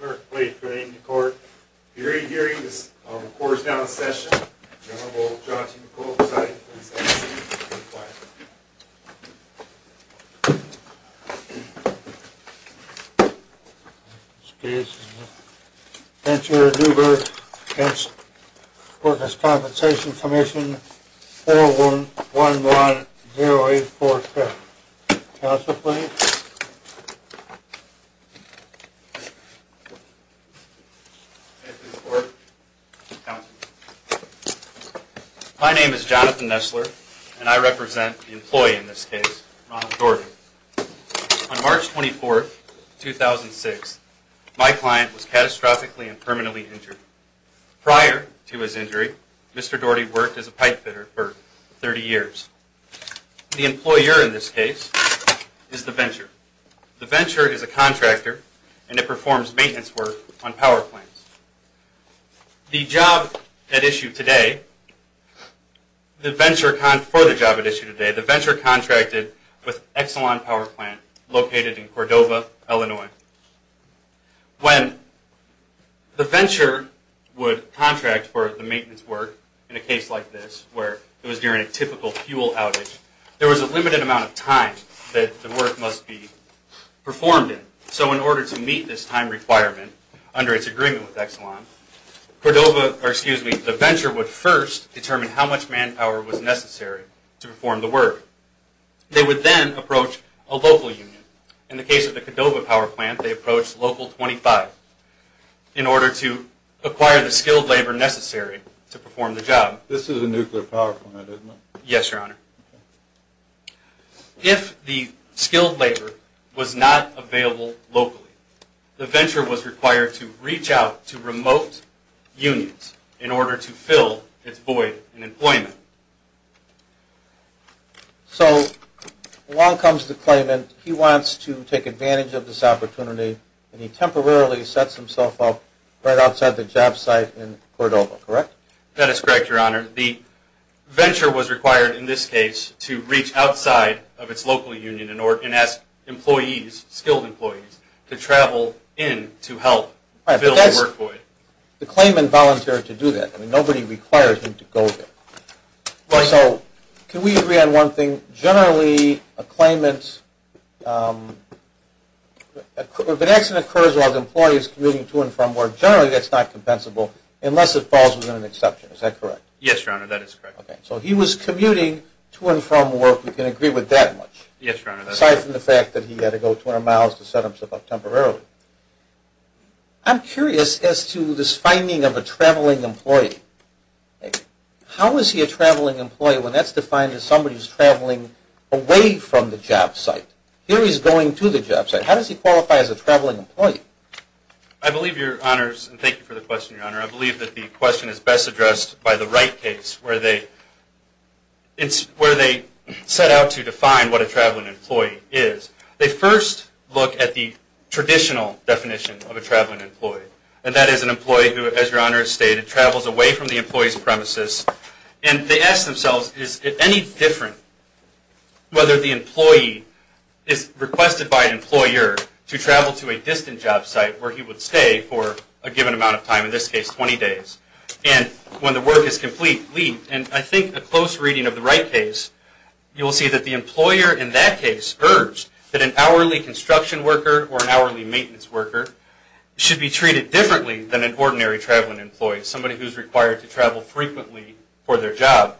Clerk, please bring the court hearing this quarter's down session. The Honorable John T. McCullough, presiding over the session, will be required. This case is the Venture-Newberg v. Workers' Compensation Comm'n 411-084-7. Counsel, please. My name is Jonathan Nessler, and I represent the employee in this case, Ronald Doherty. On March 24, 2006, my client was catastrophically and permanently injured. Prior to his injury, Mr. Doherty worked as a pipefitter for 30 years. The employer in this case is the venture. The venture is a contractor, and it performs maintenance work on power plants. For the job at issue today, the venture contracted with Exelon Power Plant, located in Cordova, Illinois. When the venture would contract for the maintenance work in a case like this, where it was during a typical fuel outage, there was a limited amount of time that the work must be performed in. So in order to meet this time requirement, under its agreement with Exelon, the venture would first determine how much manpower was necessary to perform the work. They would then approach a local union. In the case of the Cordova Power Plant, they approached Local 25, in order to acquire the skilled labor necessary to perform the job. This is a nuclear power plant, isn't it? Yes, Your Honor. If the skilled labor was not available locally, the venture was required to reach out to remote unions in order to fill its void in employment. So along comes the claimant, he wants to take advantage of this opportunity, and he temporarily sets himself up right outside the job site in Cordova, correct? That is correct, Your Honor. The venture was required in this case to reach outside of its local union and ask skilled employees to travel in to help fill the work void. The claimant volunteered to do that. Nobody required him to go there. So can we agree on one thing? Generally, if an accident occurs while the employee is commuting to and from work, generally that's not compensable unless it falls within an exception. Is that correct? Yes, Your Honor, that is correct. So he was commuting to and from work. We can agree with that much? Yes, Your Honor. Aside from the fact that he had to go 200 miles to set himself up temporarily. I'm curious as to this finding of a traveling employee. How is he a traveling employee when that's defined as somebody who's traveling away from the job site? Here he's going to the job site. How does he qualify as a traveling employee? I believe, Your Honors, and thank you for the question, Your Honor, I believe that the question is best addressed by the Wright case where they set out to define what a traveling employee is. They first look at the traditional definition of a traveling employee. And that is an employee who, as Your Honor has stated, travels away from the employee's premises. And they ask themselves, is it any different whether the employee is requested by an employer to travel to a distant job site where he would stay for a given amount of time, in this case 20 days. And when the work is complete, and I think a close reading of the Wright case, you'll see that the employer in that case urged that an hourly construction worker or an hourly maintenance worker should be treated differently than an ordinary traveling employee, somebody who's required to travel frequently for their job.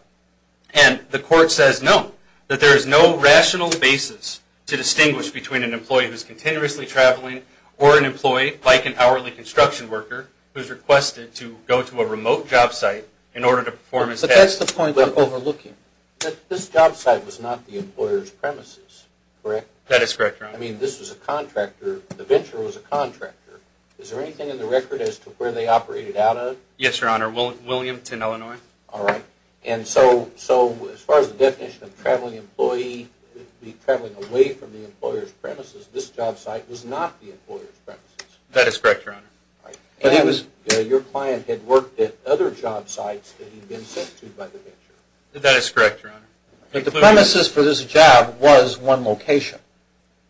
And the court says no, that there is no rational basis to distinguish between an employee who's continuously traveling or an employee like an hourly construction worker who's requested to go to a remote job site in order to perform his task. But that's the point I'm overlooking. This job site was not the employer's premises, correct? That is correct, Your Honor. I mean, this was a contractor, the venture was a contractor. Is there anything in the record as to where they operated out of? Yes, Your Honor, Williamton, Illinois. All right. And so as far as the definition of traveling away from the employer's premises, this job site was not the employer's premises. That is correct, Your Honor. And your client had worked at other job sites that he'd been sent to by the venture. That is correct, Your Honor. The premises for this job was one location.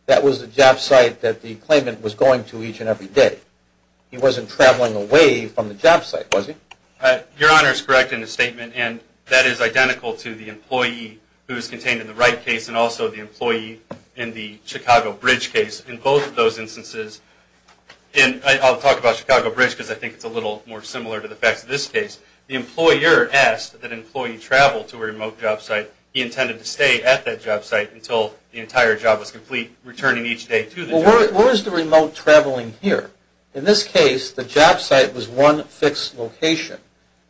That was the job site that the claimant was going to each and every day. He wasn't traveling away from the job site, was he? Your Honor is correct in his statement, and that is identical to the employee who is contained in the Wright case and also the employee in the Chicago Bridge case. In both of those instances, and I'll talk about Chicago Bridge because I think it's a little more similar to the facts of this case, the employer asked that an employee travel to a remote job site. He intended to stay at that job site until the entire job was complete, returning each day to the job site. Well, where is the remote traveling here? In this case, the job site was one fixed location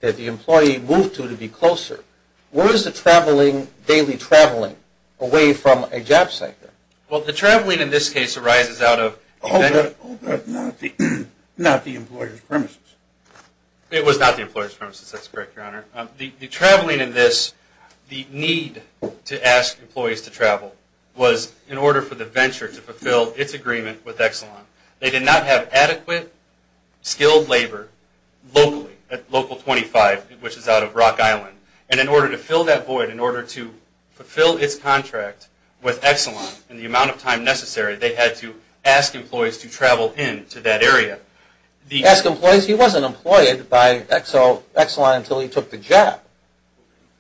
that the employee moved to to be closer. Where is the daily traveling away from a job site then? Well, the traveling in this case arises out of… Oh, but not the employer's premises. It was not the employer's premises. That's correct, Your Honor. The traveling in this, the need to ask employees to travel, was in order for the venture to fulfill its agreement with Exelon. They did not have adequate skilled labor locally at Local 25, which is out of Rock Island. And in order to fill that void, in order to fulfill its contract with Exelon in the amount of time necessary, they had to ask employees to travel in to that area. Ask employees? He wasn't employed by Exelon until he took the job.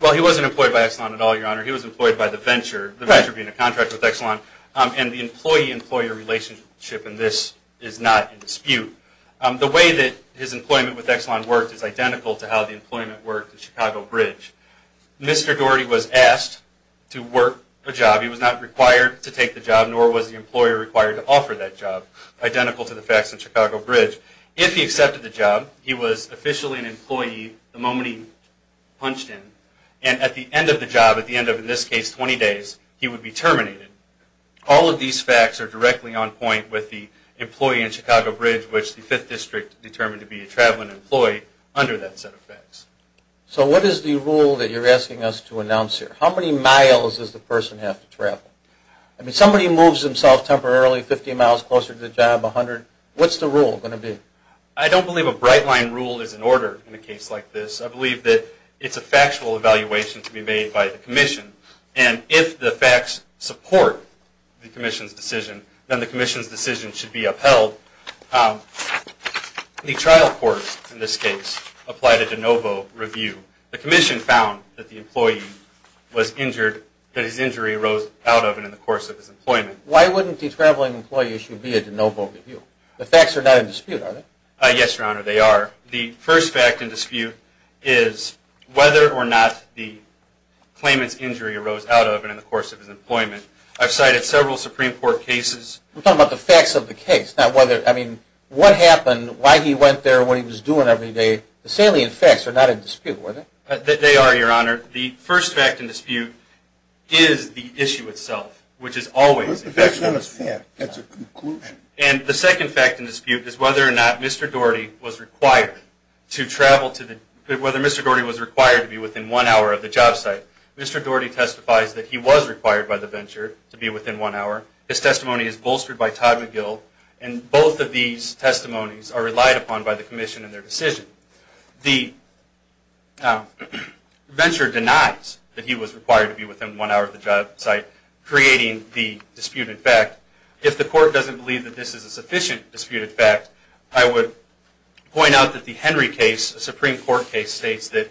Well, he wasn't employed by Exelon at all, Your Honor. He was employed by the venture, the venture being a contract with Exelon. And the employee-employer relationship in this is not in dispute. The way that his employment with Exelon worked is identical to how the employment worked at Chicago Bridge. Mr. Doherty was asked to work a job. He was not required to take the job, nor was the employer required to offer that job, identical to the facts at Chicago Bridge. If he accepted the job, he was officially an employee the moment he punched in. And at the end of the job, at the end of, in this case, 20 days, he would be terminated. All of these facts are directly on point with the employee in Chicago Bridge, which the 5th District determined to be a traveling employee under that set of facts. So what is the rule that you're asking us to announce here? How many miles does the person have to travel? I mean, somebody moves themselves temporarily 50 miles closer to the job, 100. What's the rule going to be? I don't believe a bright-line rule is in order in a case like this. I believe that it's a factual evaluation to be made by the commission. And if the facts support the commission's decision, then the commission's decision should be upheld. The trial court, in this case, applied a de novo review. The commission found that the employee was injured, that his injury arose out of and in the course of his employment. Why wouldn't the traveling employee issue be a de novo review? The facts are not in dispute, are they? Yes, Your Honor, they are. The first fact in dispute is whether or not the claimant's injury arose out of and in the course of his employment. I've cited several Supreme Court cases. We're talking about the facts of the case, not whether. I mean, what happened, why he went there, what he was doing every day. The salient facts are not in dispute, are they? They are, Your Honor. The first fact in dispute is the issue itself, which is always. That's not a fact. That's a conclusion. And the second fact in dispute is whether or not Mr. Doherty was required to be within one hour of the job site. Mr. Doherty testifies that he was required by the venture to be within one hour. His testimony is bolstered by Todd McGill, and both of these testimonies are relied upon by the commission in their decision. The venture denies that he was required to be within one hour of the job site, creating the disputed fact. If the court doesn't believe that this is a sufficient disputed fact, I would point out that the Henry case, a Supreme Court case, states that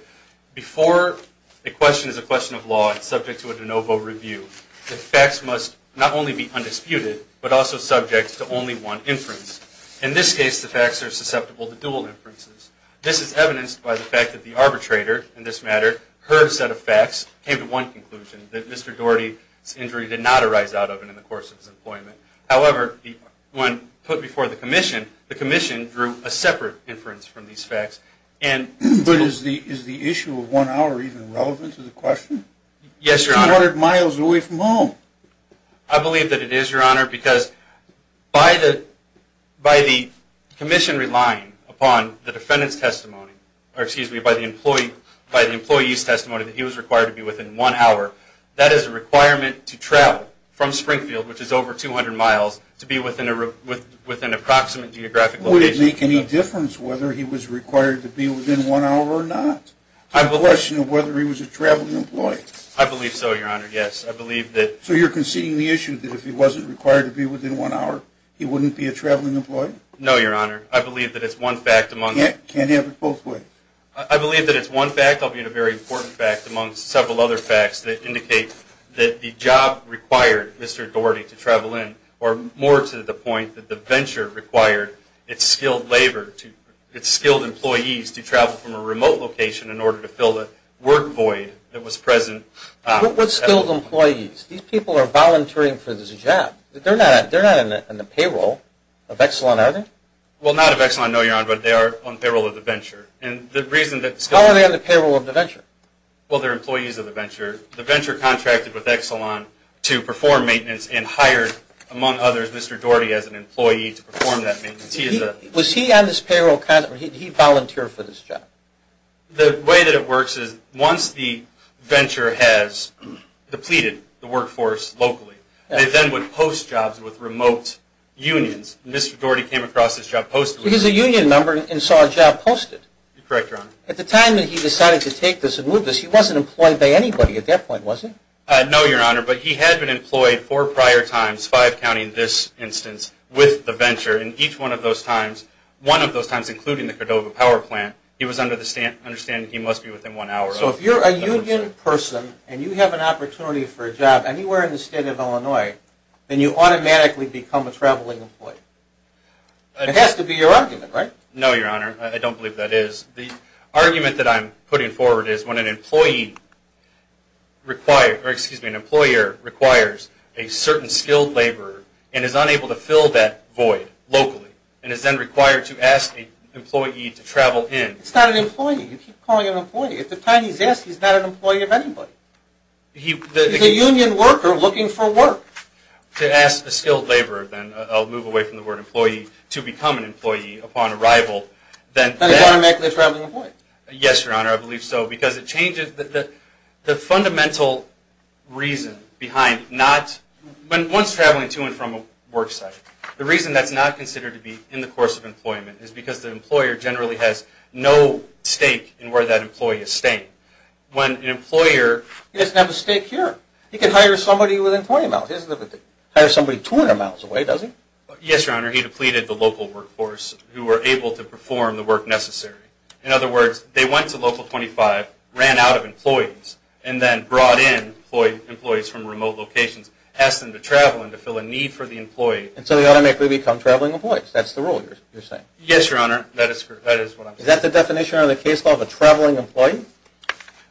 before a question is a question of law and subject to a de novo review, the facts must not only be undisputed but also subject to only one inference. In this case, the facts are susceptible to dual inferences. This is evidenced by the fact that the arbitrator in this matter, her set of facts came to one conclusion, that Mr. Doherty's injury did not arise out of it in the course of his employment. However, when put before the commission, the commission drew a separate inference from these facts. But is the issue of one hour even relevant to the question? Yes, Your Honor. It's 200 miles away from home. I believe that it is, Your Honor, because by the commission relying upon the defendant's testimony, by the employee's testimony that he was required to be within one hour, that is a requirement to travel from Springfield, which is over 200 miles, to be within an approximate geographic location. Would it make any difference whether he was required to be within one hour or not? It's a question of whether he was a traveling employee. I believe so, Your Honor, yes. So you're conceding the issue that if he wasn't required to be within one hour, he wouldn't be a traveling employee? No, Your Honor. I believe that it's one fact among… Can't you have it both ways? I believe that it's one fact. I'll give you a very important fact amongst several other facts that indicate that the job required Mr. Daugherty to travel in, or more to the point that the venture required its skilled labor, its skilled employees to travel from a remote location in order to fill the work void that was present. What skilled employees? These people are volunteering for this job. They're not in the payroll of Exelon, are they? Well, not of Exelon, no, Your Honor, but they are on payroll of the venture. How are they on the payroll of the venture? Well, they're employees of the venture. The venture contracted with Exelon to perform maintenance and hired, among others, Mr. Daugherty as an employee to perform that maintenance. Was he on this payroll? Did he volunteer for this job? The way that it works is once the venture has depleted the workforce locally, they then would post jobs with remote unions. Mr. Daugherty came across this job posting. He was a union member and saw a job posted. You're correct, Your Honor. At the time that he decided to take this and move this, he wasn't employed by anybody at that point, was he? No, Your Honor, but he had been employed four prior times, five counting this instance, with the venture, and each one of those times, one of those times including the Cordova Power Plant, he was under the understanding he must be within one hour. So if you're a union person and you have an opportunity for a job anywhere in the state of Illinois, then you automatically become a traveling employee. It has to be your argument, right? No, Your Honor. I don't believe that is. The argument that I'm putting forward is when an employee requires, or excuse me, an employer requires a certain skilled laborer and is unable to fill that void locally and is then required to ask an employee to travel in. It's not an employee. You keep calling him an employee. At the time he's asked, he's not an employee of anybody. He's a union worker looking for work. To ask a skilled laborer then, I'll move away from the word employee, to become an employee upon arrival. Then he's automatically a traveling employee. Yes, Your Honor, I believe so because it changes the fundamental reason behind not, when one's traveling to and from a work site, the reason that's not considered to be in the course of employment is because the employer generally has no stake in where that employee is staying. When an employer, he doesn't have a stake here. He can hire somebody within 20 miles. He doesn't have to hire somebody 200 miles away, does he? Yes, Your Honor. He depleted the local workforce who were able to perform the work necessary. In other words, they went to Local 25, ran out of employees, and then brought in employees from remote locations, asked them to travel in to fill a need for the employee. And so they automatically become traveling employees. Yes, Your Honor. That is what I'm saying. Is that the definition of the case of a traveling employee?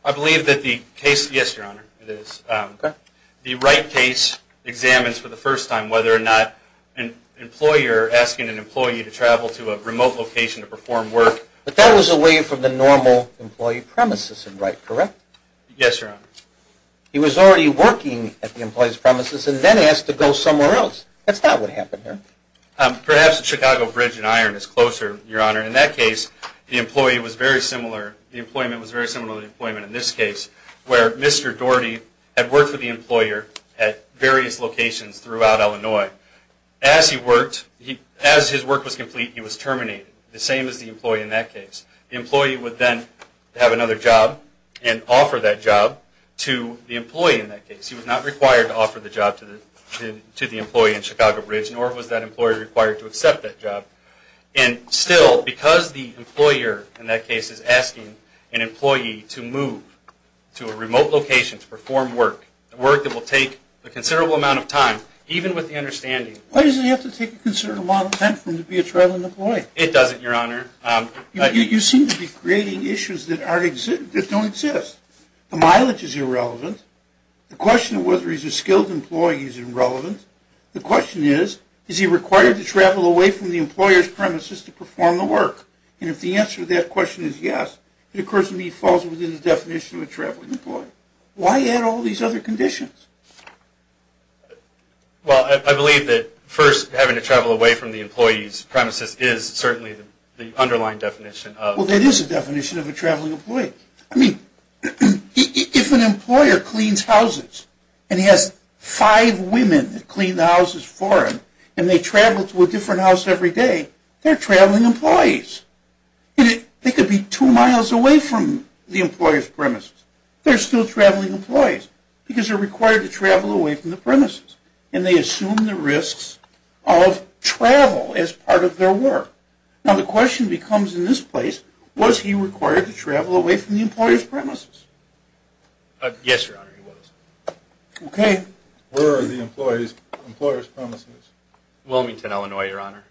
I believe that the case, yes, Your Honor, it is. The Wright case examines for the first time whether or not an employer asking an employee to travel to a remote location to perform work. But that was away from the normal employee premises in Wright, correct? Yes, Your Honor. He was already working at the employee's premises and then asked to go somewhere else. That's not what happened there. Perhaps the Chicago Bridge and Iron is closer, Your Honor. In that case, the employee was very similar. The employment was very similar to the employment in this case where Mr. Daugherty had worked with the employer at various locations throughout Illinois. As he worked, as his work was complete, he was terminated, the same as the employee in that case. The employee would then have another job and offer that job to the employee in that case. He was not required to offer the job to the employee in Chicago Bridge, nor was that employee required to accept that job. And still, because the employer in that case is asking an employee to move to a remote location to perform work, work that will take a considerable amount of time, even with the understanding... Why does he have to take a considerable amount of time for him to be a traveling employee? It doesn't, Your Honor. You seem to be creating issues that don't exist. The mileage is irrelevant. The question of whether he's a skilled employee is irrelevant. The question is, is he required to travel away from the employer's premises to perform the work? And if the answer to that question is yes, it occurs to me he falls within the definition of a traveling employee. Why add all these other conditions? Well, I believe that first having to travel away from the employee's premises is certainly the underlying definition of... Well, that is a definition of a traveling employee. I mean, if an employer cleans houses and he has five women that clean houses for him and they travel to a different house every day, they're traveling employees. They could be two miles away from the employer's premises. They're still traveling employees because they're required to travel away from the premises. And they assume the risks of travel as part of their work. Now, the question becomes in this place, was he required to travel away from the employer's premises? Yes, Your Honor, he was. Okay. Where are the employer's premises? Wilmington, Illinois, Your Honor,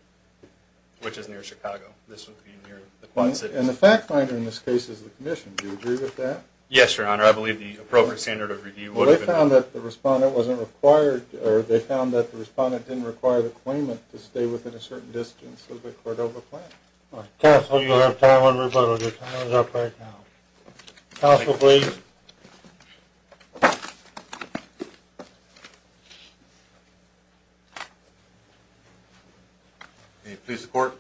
which is near Chicago. This would be near the Quad Cities. And the fact finder in this case is the commission. Do you agree with that? Yes, Your Honor. I believe the appropriate standard of review would have been... Well, they found that the respondent wasn't required or they found that the respondent didn't require the claimant to stay within a certain distance of the Cordova plant. Counsel, you have time on rebuttal. Your time is up right now. Counsel, please. Can you please support?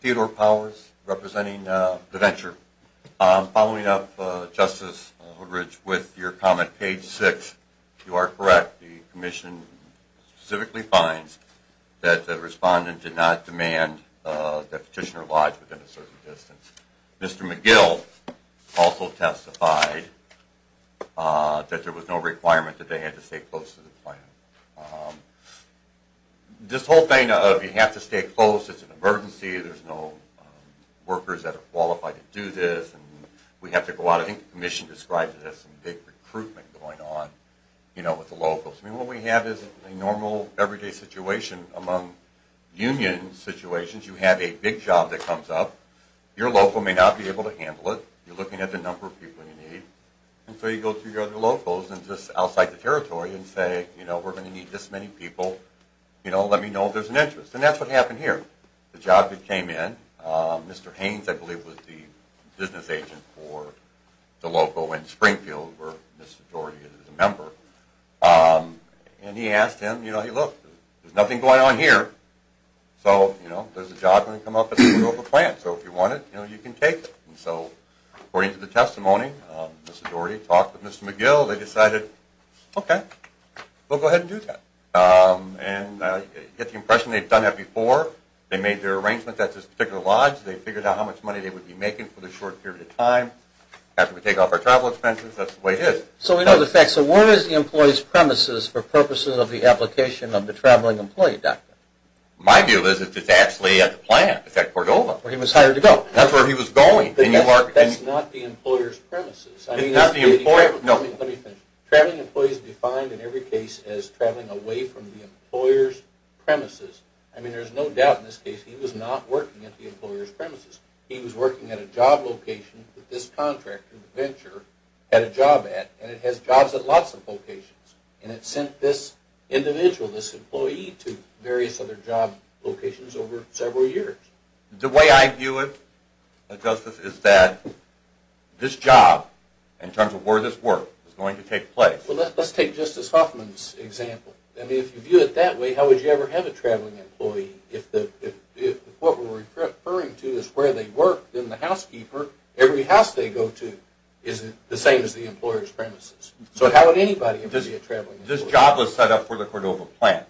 Theodore Powers, representing DaVenture. Following up, Justice Woodridge, with your comment, page 6, you are correct. The commission specifically finds that the respondent did not demand that petitioner lodge within a certain distance. Mr. McGill also testified that there was no requirement that they had to stay close to the plant. This whole thing of you have to stay close, it's an emergency, there's no workers that are qualified to do this, and we have to go out. I think the commission described it as some big recruitment going on with the locals. I mean, what we have is a normal, everyday situation among union situations. You have a big job that comes up. Your local may not be able to handle it. You're looking at the number of people you need. And so you go to your other locals and just outside the territory and say, you know, we're going to need this many people. You know, let me know if there's an interest. And that's what happened here. The job that came in, Mr. Haynes, I believe, was the business agent for the local in Springfield where Mr. Doherty is a member. And he asked him, you know, he looked. There's nothing going on here. So, you know, there's a job going to come up at the local plant, so if you want it, you know, you can take it. And so according to the testimony, Mr. Doherty talked with Mr. McGill. They decided, okay, we'll go ahead and do that. And you get the impression they've done that before. They made their arrangement at this particular lodge. They figured out how much money they would be making for the short period of time. After we take off our travel expenses, that's the way it is. So we know the facts. So where is the employee's premises for purposes of the application of the traveling employee, doctor? My view is it's actually at the plant. It's at Cordova. Where he was hired to go. That's where he was going. That's not the employer's premises. It's not the employer. No. Let me finish. Traveling employees defined in every case as traveling away from the employer's premises. I mean, there's no doubt in this case he was not working at the employer's premises. He was working at a job location that this contractor, the venture, had a job at. And it has jobs at lots of locations. And it sent this individual, this employee, to various other job locations over several years. The way I view it, Justice, is that this job, in terms of where this worked, is going to take place. Well, let's take Justice Huffman's example. I mean, if you view it that way, how would you ever have a traveling employee if what we're referring to is where they work, then the housekeeper, every house they go to, is the same as the employer's premises. So how would anybody ever be a traveling employee? This job was set up for the Cordova plant.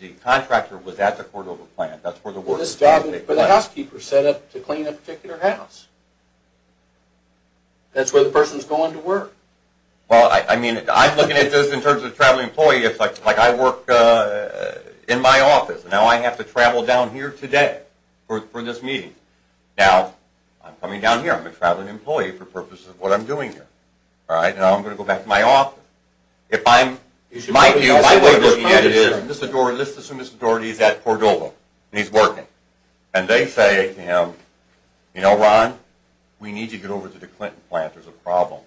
The contractor was at the Cordova plant. That's where the work was going to take place. This job was for the housekeeper set up to clean a particular house. That's where the person is going to work. Well, I mean, I'm looking at this in terms of traveling employees. It's like I work in my office. Now I have to travel down here today for this meeting. Now I'm coming down here. I'm a traveling employee for the purpose of what I'm doing here. Now I'm going to go back to my office. If I'm my view, my way of looking at it is, let's assume Mr. Daugherty is at Cordova and he's working, and they say to him, you know, Ron, we need you to get over to the Clinton plant. There's a problem.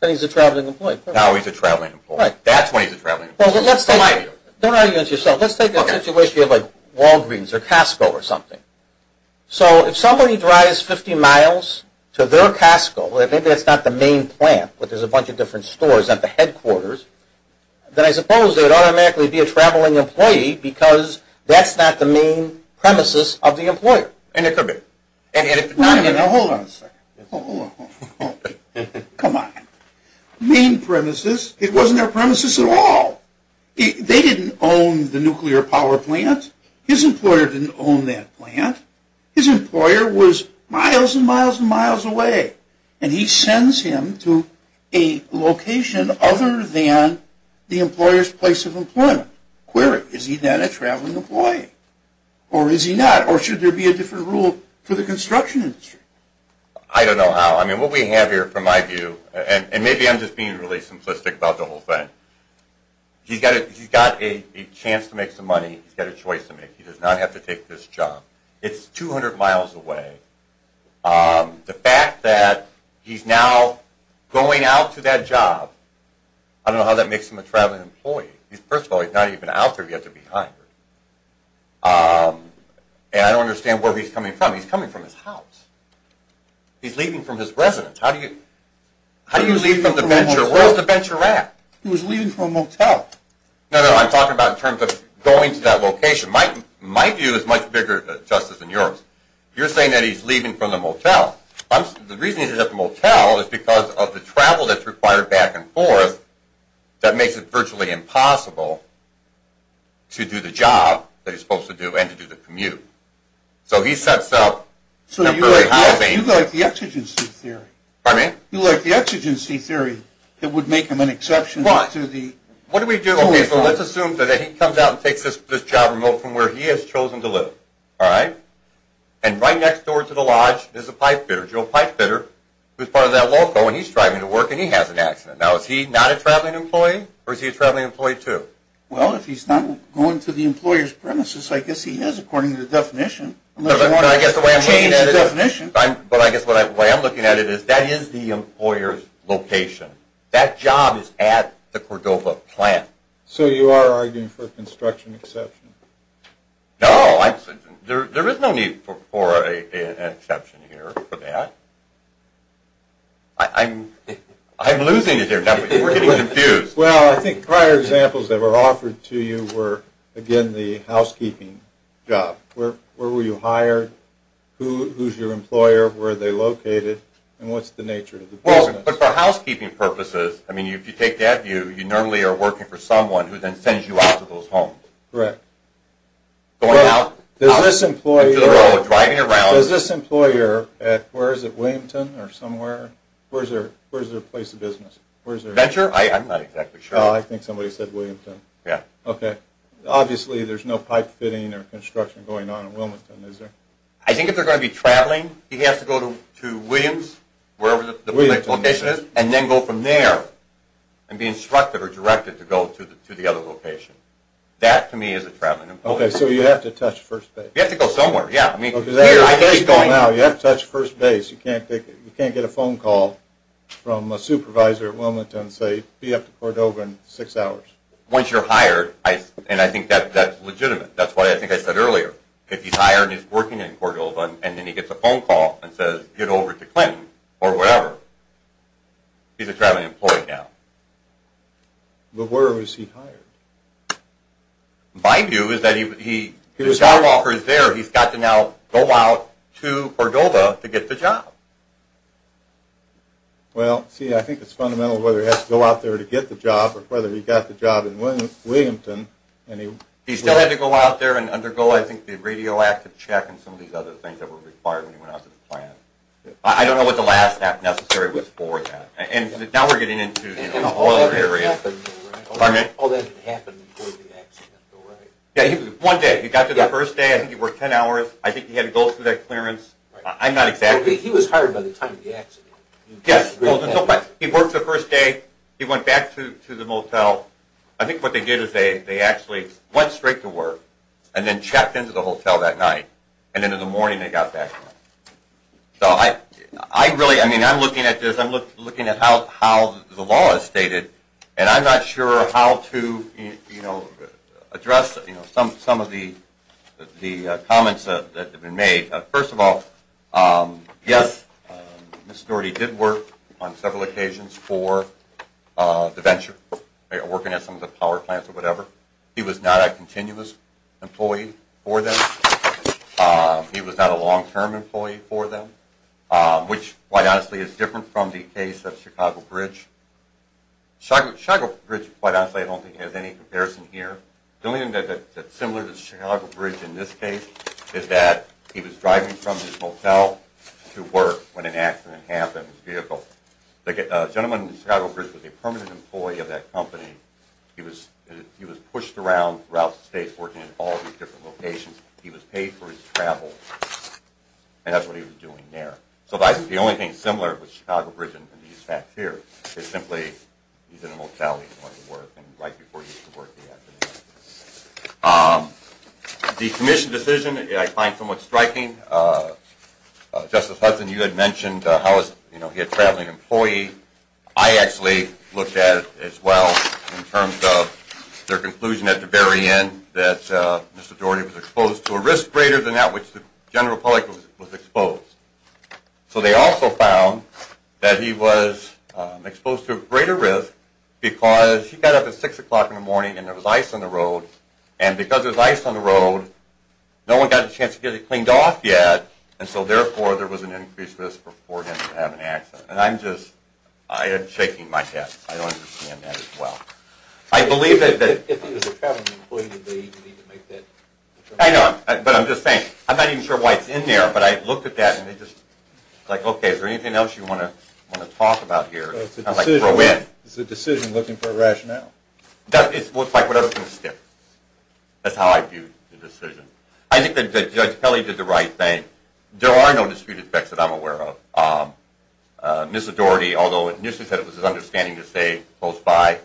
Then he's a traveling employee. Now he's a traveling employee. That's when he's a traveling employee. Don't argue with yourself. Let's take a situation like Walgreens or Costco or something. So if somebody drives 50 miles to their Costco, maybe that's not the main plant, but there's a bunch of different stores at the headquarters, then I suppose they would automatically be a traveling employee because that's not the main premises of the employer. And it could be. Now hold on a second. Hold on. Come on. Main premises, it wasn't their premises at all. They didn't own the nuclear power plant. His employer didn't own that plant. His employer was miles and miles and miles away, and he sends him to a location other than the employer's place of employment. Query, is he then a traveling employee? Or is he not? Or should there be a different rule for the construction industry? I don't know how. I mean, what we have here, from my view, and maybe I'm just being really simplistic about the whole thing, he's got a chance to make some money. He's got a choice to make. He does not have to take this job. It's 200 miles away. The fact that he's now going out to that job, I don't know how that makes him a traveling employee. First of all, he's not even out there yet. They're behind him. And I don't understand where he's coming from. He's coming from his house. He's leaving from his residence. How do you leave from the venture? Where's the venture at? He was leaving from a motel. No, no, I'm talking about in terms of going to that location. My view is much bigger, Justice, than yours. You're saying that he's leaving from the motel. The reason he's at the motel is because of the travel that's required back and forth that makes it virtually impossible to do the job that he's supposed to do and to do the commute. So he sets up temporary housing. So you like the exigency theory. Pardon me? You like the exigency theory that would make him an exception to the 25. What do we do? Okay, so let's assume that he comes out and takes this job remote from where he has chosen to live. All right? And right next door to the lodge is a pipe fitter, Joe Pipefitter, who's part of that loco, and he's driving to work, and he has an accident. Now, is he not a traveling employee, or is he a traveling employee, too? Well, if he's not going to the employer's premises, I guess he is according to the definition. Unless you want to change the definition. But I guess the way I'm looking at it is that is the employer's location. That job is at the Cordova plant. So you are arguing for a construction exception? No. There is no need for an exception here for that. I'm losing it here. We're getting confused. Well, I think prior examples that were offered to you were, again, the housekeeping job. Where were you hired? Who's your employer? Where are they located? And what's the nature of the business? Well, but for housekeeping purposes, I mean, if you take that view, you normally are working for someone who then sends you out to those homes. Correct. Going out into the world, driving around. Does this employer at, where is it, Williamton or somewhere? Where's their place of business? Venture? I'm not exactly sure. Oh, I think somebody said Williamton. Yeah. Okay. Obviously, there's no pipe fitting or construction going on at Williamton, is there? I think if they're going to be traveling, he has to go to Williams, wherever the location is, and then go from there and be instructed or directed to go to the other location. That, to me, is a traveling employer. Okay, so you have to touch first base. You have to go somewhere, yeah. I mean, here's where he's going. You have to touch first base. You can't get a phone call from a supervisor at Williamton and say, be up to Cordova in six hours. Once you're hired, and I think that's legitimate. That's what I think I said earlier. If he's hired and he's working in Cordova, and then he gets a phone call and says, get over to Clinton or wherever, he's a traveling employee now. But where is he hired? My view is that the job offer is there. He's got to now go out to Cordova to get the job. Well, see, I think it's fundamental whether he has to go out there to get the job or whether he got the job in Williamton. He still had to go out there and undergo, I think, the radioactive check and some of these other things that were required when he went out to the plant. I don't know what the last necessary was for that. Now we're getting into the employer area. Pardon me? One day. He got there the first day. I think he worked ten hours. I think he had to go through that clearance. I'm not exactly sure. He was hired by the time of the accident. Yes. He worked the first day. He went back to the motel. I think what they did is they actually went straight to work and then checked into the hotel that night, and then in the morning they got back to work. So I really, I mean, I'm looking at this. I'm not sure how to address some of the comments that have been made. First of all, yes, Mr. Doherty did work on several occasions for DeVenture, working at some of the power plants or whatever. He was not a continuous employee for them. He was not a long-term employee for them, which, quite honestly, is different from the case of Chicago Bridge. Chicago Bridge, quite honestly, I don't think has any comparison here. The only thing that's similar to Chicago Bridge in this case is that he was driving from his motel to work when an accident happened in his vehicle. The gentleman in Chicago Bridge was a permanent employee of that company. He was pushed around throughout the state working in all these different locations. He was paid for his travel, and that's what he was doing there. So the only thing similar with Chicago Bridge and these facts here is simply he's in a motel, he's going to work, and right before he used to work the afternoon. The commission decision I find somewhat striking. Justice Hudson, you had mentioned how he had a traveling employee. I actually looked at it as well in terms of their conclusion at the very end that Mr. Daugherty was exposed to a risk greater than that which the general public was exposed. So they also found that he was exposed to a greater risk because he got up at 6 o'clock in the morning and there was ice on the road, and because there was ice on the road, no one got a chance to get it cleaned off yet, and so therefore there was an increased risk for him to have an accident. And I'm just shaking my head. I don't understand that as well. If he was a traveling employee, did they even need to make that determination? I know, but I'm just saying. I'm not even sure why it's in there, but I looked at that, and it's just like, okay, is there anything else you want to talk about here? It's a decision looking for a rationale. It's like what I was going to say. That's how I viewed the decision. I think that Judge Kelly did the right thing. There are no disputed facts that I'm aware of. Mr. Daugherty, although initially he said it was his understanding to stay close by,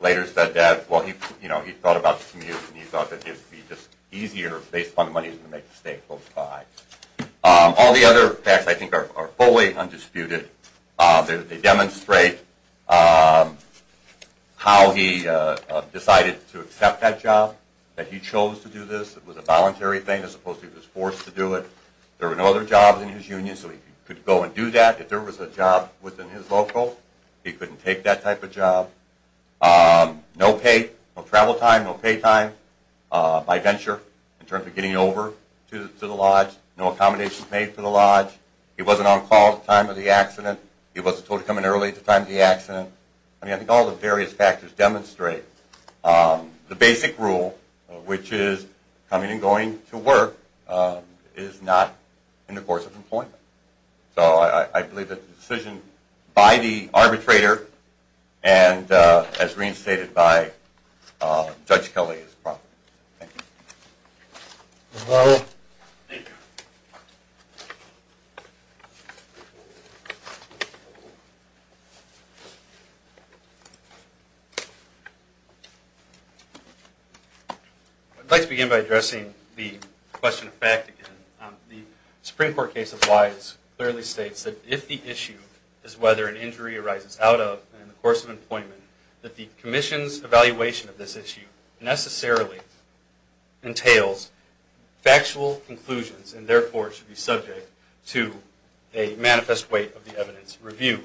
later said that, well, he thought about the commute and he thought that it would be just easier based on the money he was going to make to stay close by. All the other facts I think are fully undisputed. They demonstrate how he decided to accept that job, that he chose to do this. It was a voluntary thing as opposed to he was forced to do it. There were no other jobs in his union, so he could go and do that. If there was a job within his local, he couldn't take that type of job. No pay, no travel time, no pay time by venture in terms of getting over to the lodge. No accommodations made for the lodge. He wasn't on call at the time of the accident. He wasn't told to come in early at the time of the accident. I think all the various factors demonstrate the basic rule, which is coming and going to work is not in the course of employment. I believe that the decision by the arbitrator and as reinstated by Judge Kelly is proper. Thank you. I'd like to begin by addressing the question of fact again. The Supreme Court case of Wise clearly states that if the issue is whether an injury arises out of and in the course of employment, that the Commission's evaluation of this issue necessarily entails factual conclusions and therefore should be subject to a manifest weight of the evidence reviewed.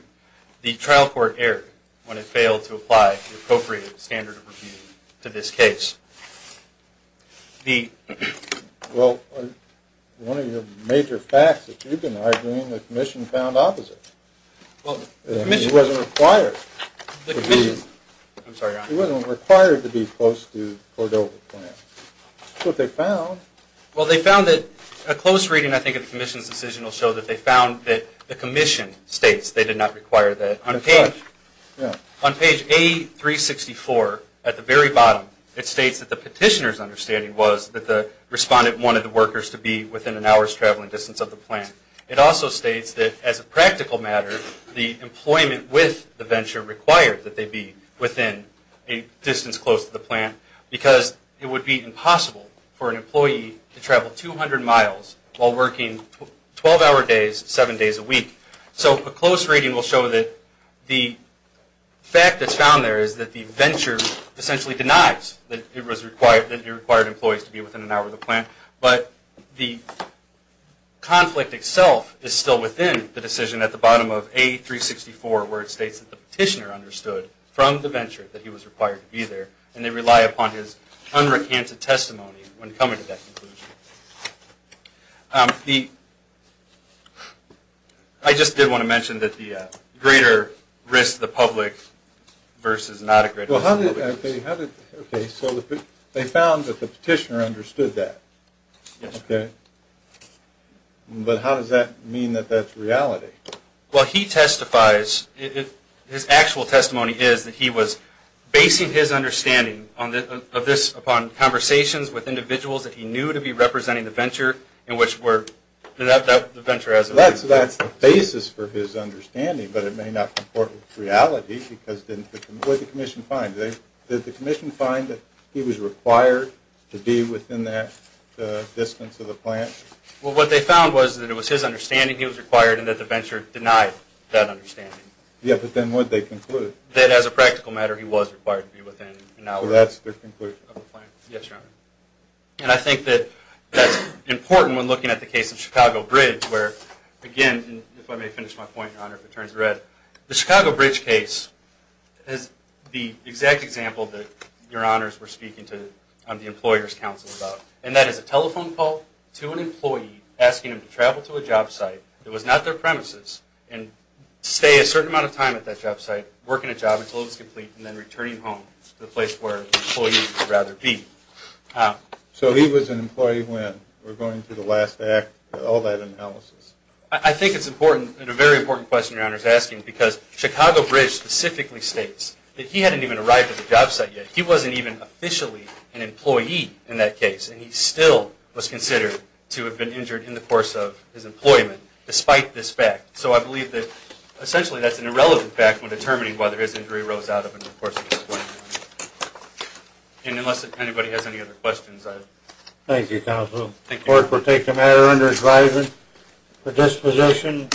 The trial court erred when it failed to apply the appropriate standard of review to this case. Well, one of your major facts that you've been arguing, the Commission found opposite. It wasn't required to be close to Cordova's plan. Well, they found that a close reading, I think, of the Commission's decision will show that they found that the Commission states they did not require that. On page A364, at the very bottom, it states that the petitioner's understanding was that the respondent wanted the workers to be within an hour's traveling distance of the plant. It also states that as a practical matter, the employment with the venture required that they be within a distance close to the plant because it would be impossible for an employee to travel 200 miles while working 12-hour days, seven days a week. So a close reading will show that the fact that's found there is that the venture essentially denies that it required employees to be within an hour of the plant, but the conflict itself is still within the decision at the bottom of A364 where it states that the petitioner understood from the venture that he was required to be there and they rely upon his unrecanted testimony when coming to that conclusion. I just did want to mention that the greater risk to the public versus not a greater risk to the public. Okay, so they found that the petitioner understood that. Yes. Okay. But how does that mean that that's reality? Well, he testifies. His actual testimony is that he was basing his understanding of this upon conversations with individuals that he knew to be representing the venture in which the venture has a reason. That's the basis for his understanding, but it may not comport with reality. What did the commission find? Did the commission find that he was required to be within that distance of the plant? Well, what they found was that it was his understanding he was required and that the venture denied that understanding. Yes, but then what did they conclude? That as a practical matter, he was required to be within an hour of the plant. Yes, Your Honor. And I think that that's important when looking at the case of Chicago Bridge where, again, if I may finish my point, Your Honor, if it turns red, the Chicago Bridge case is the exact example that Your Honors were speaking to the employer's counsel about, and that is a telephone call to an employee asking him to travel to a job site that was not their premises and stay a certain amount of time at that job site, working a job until it was complete, and then returning home to the place where the employee would rather be. So he was an employee when we're going through the last act, all that analysis? I think it's important, and a very important question Your Honor is asking, because Chicago Bridge specifically states that he hadn't even arrived at the job site yet. He wasn't even officially an employee in that case, and he still was considered to have been injured in the course of his employment despite this fact. So I believe that essentially that's an irrelevant fact when determining whether his injury arose out of an employment. And unless anybody has any other questions, I... Thank you, counsel. Thank you. Court will take the matter under advisement for disposition.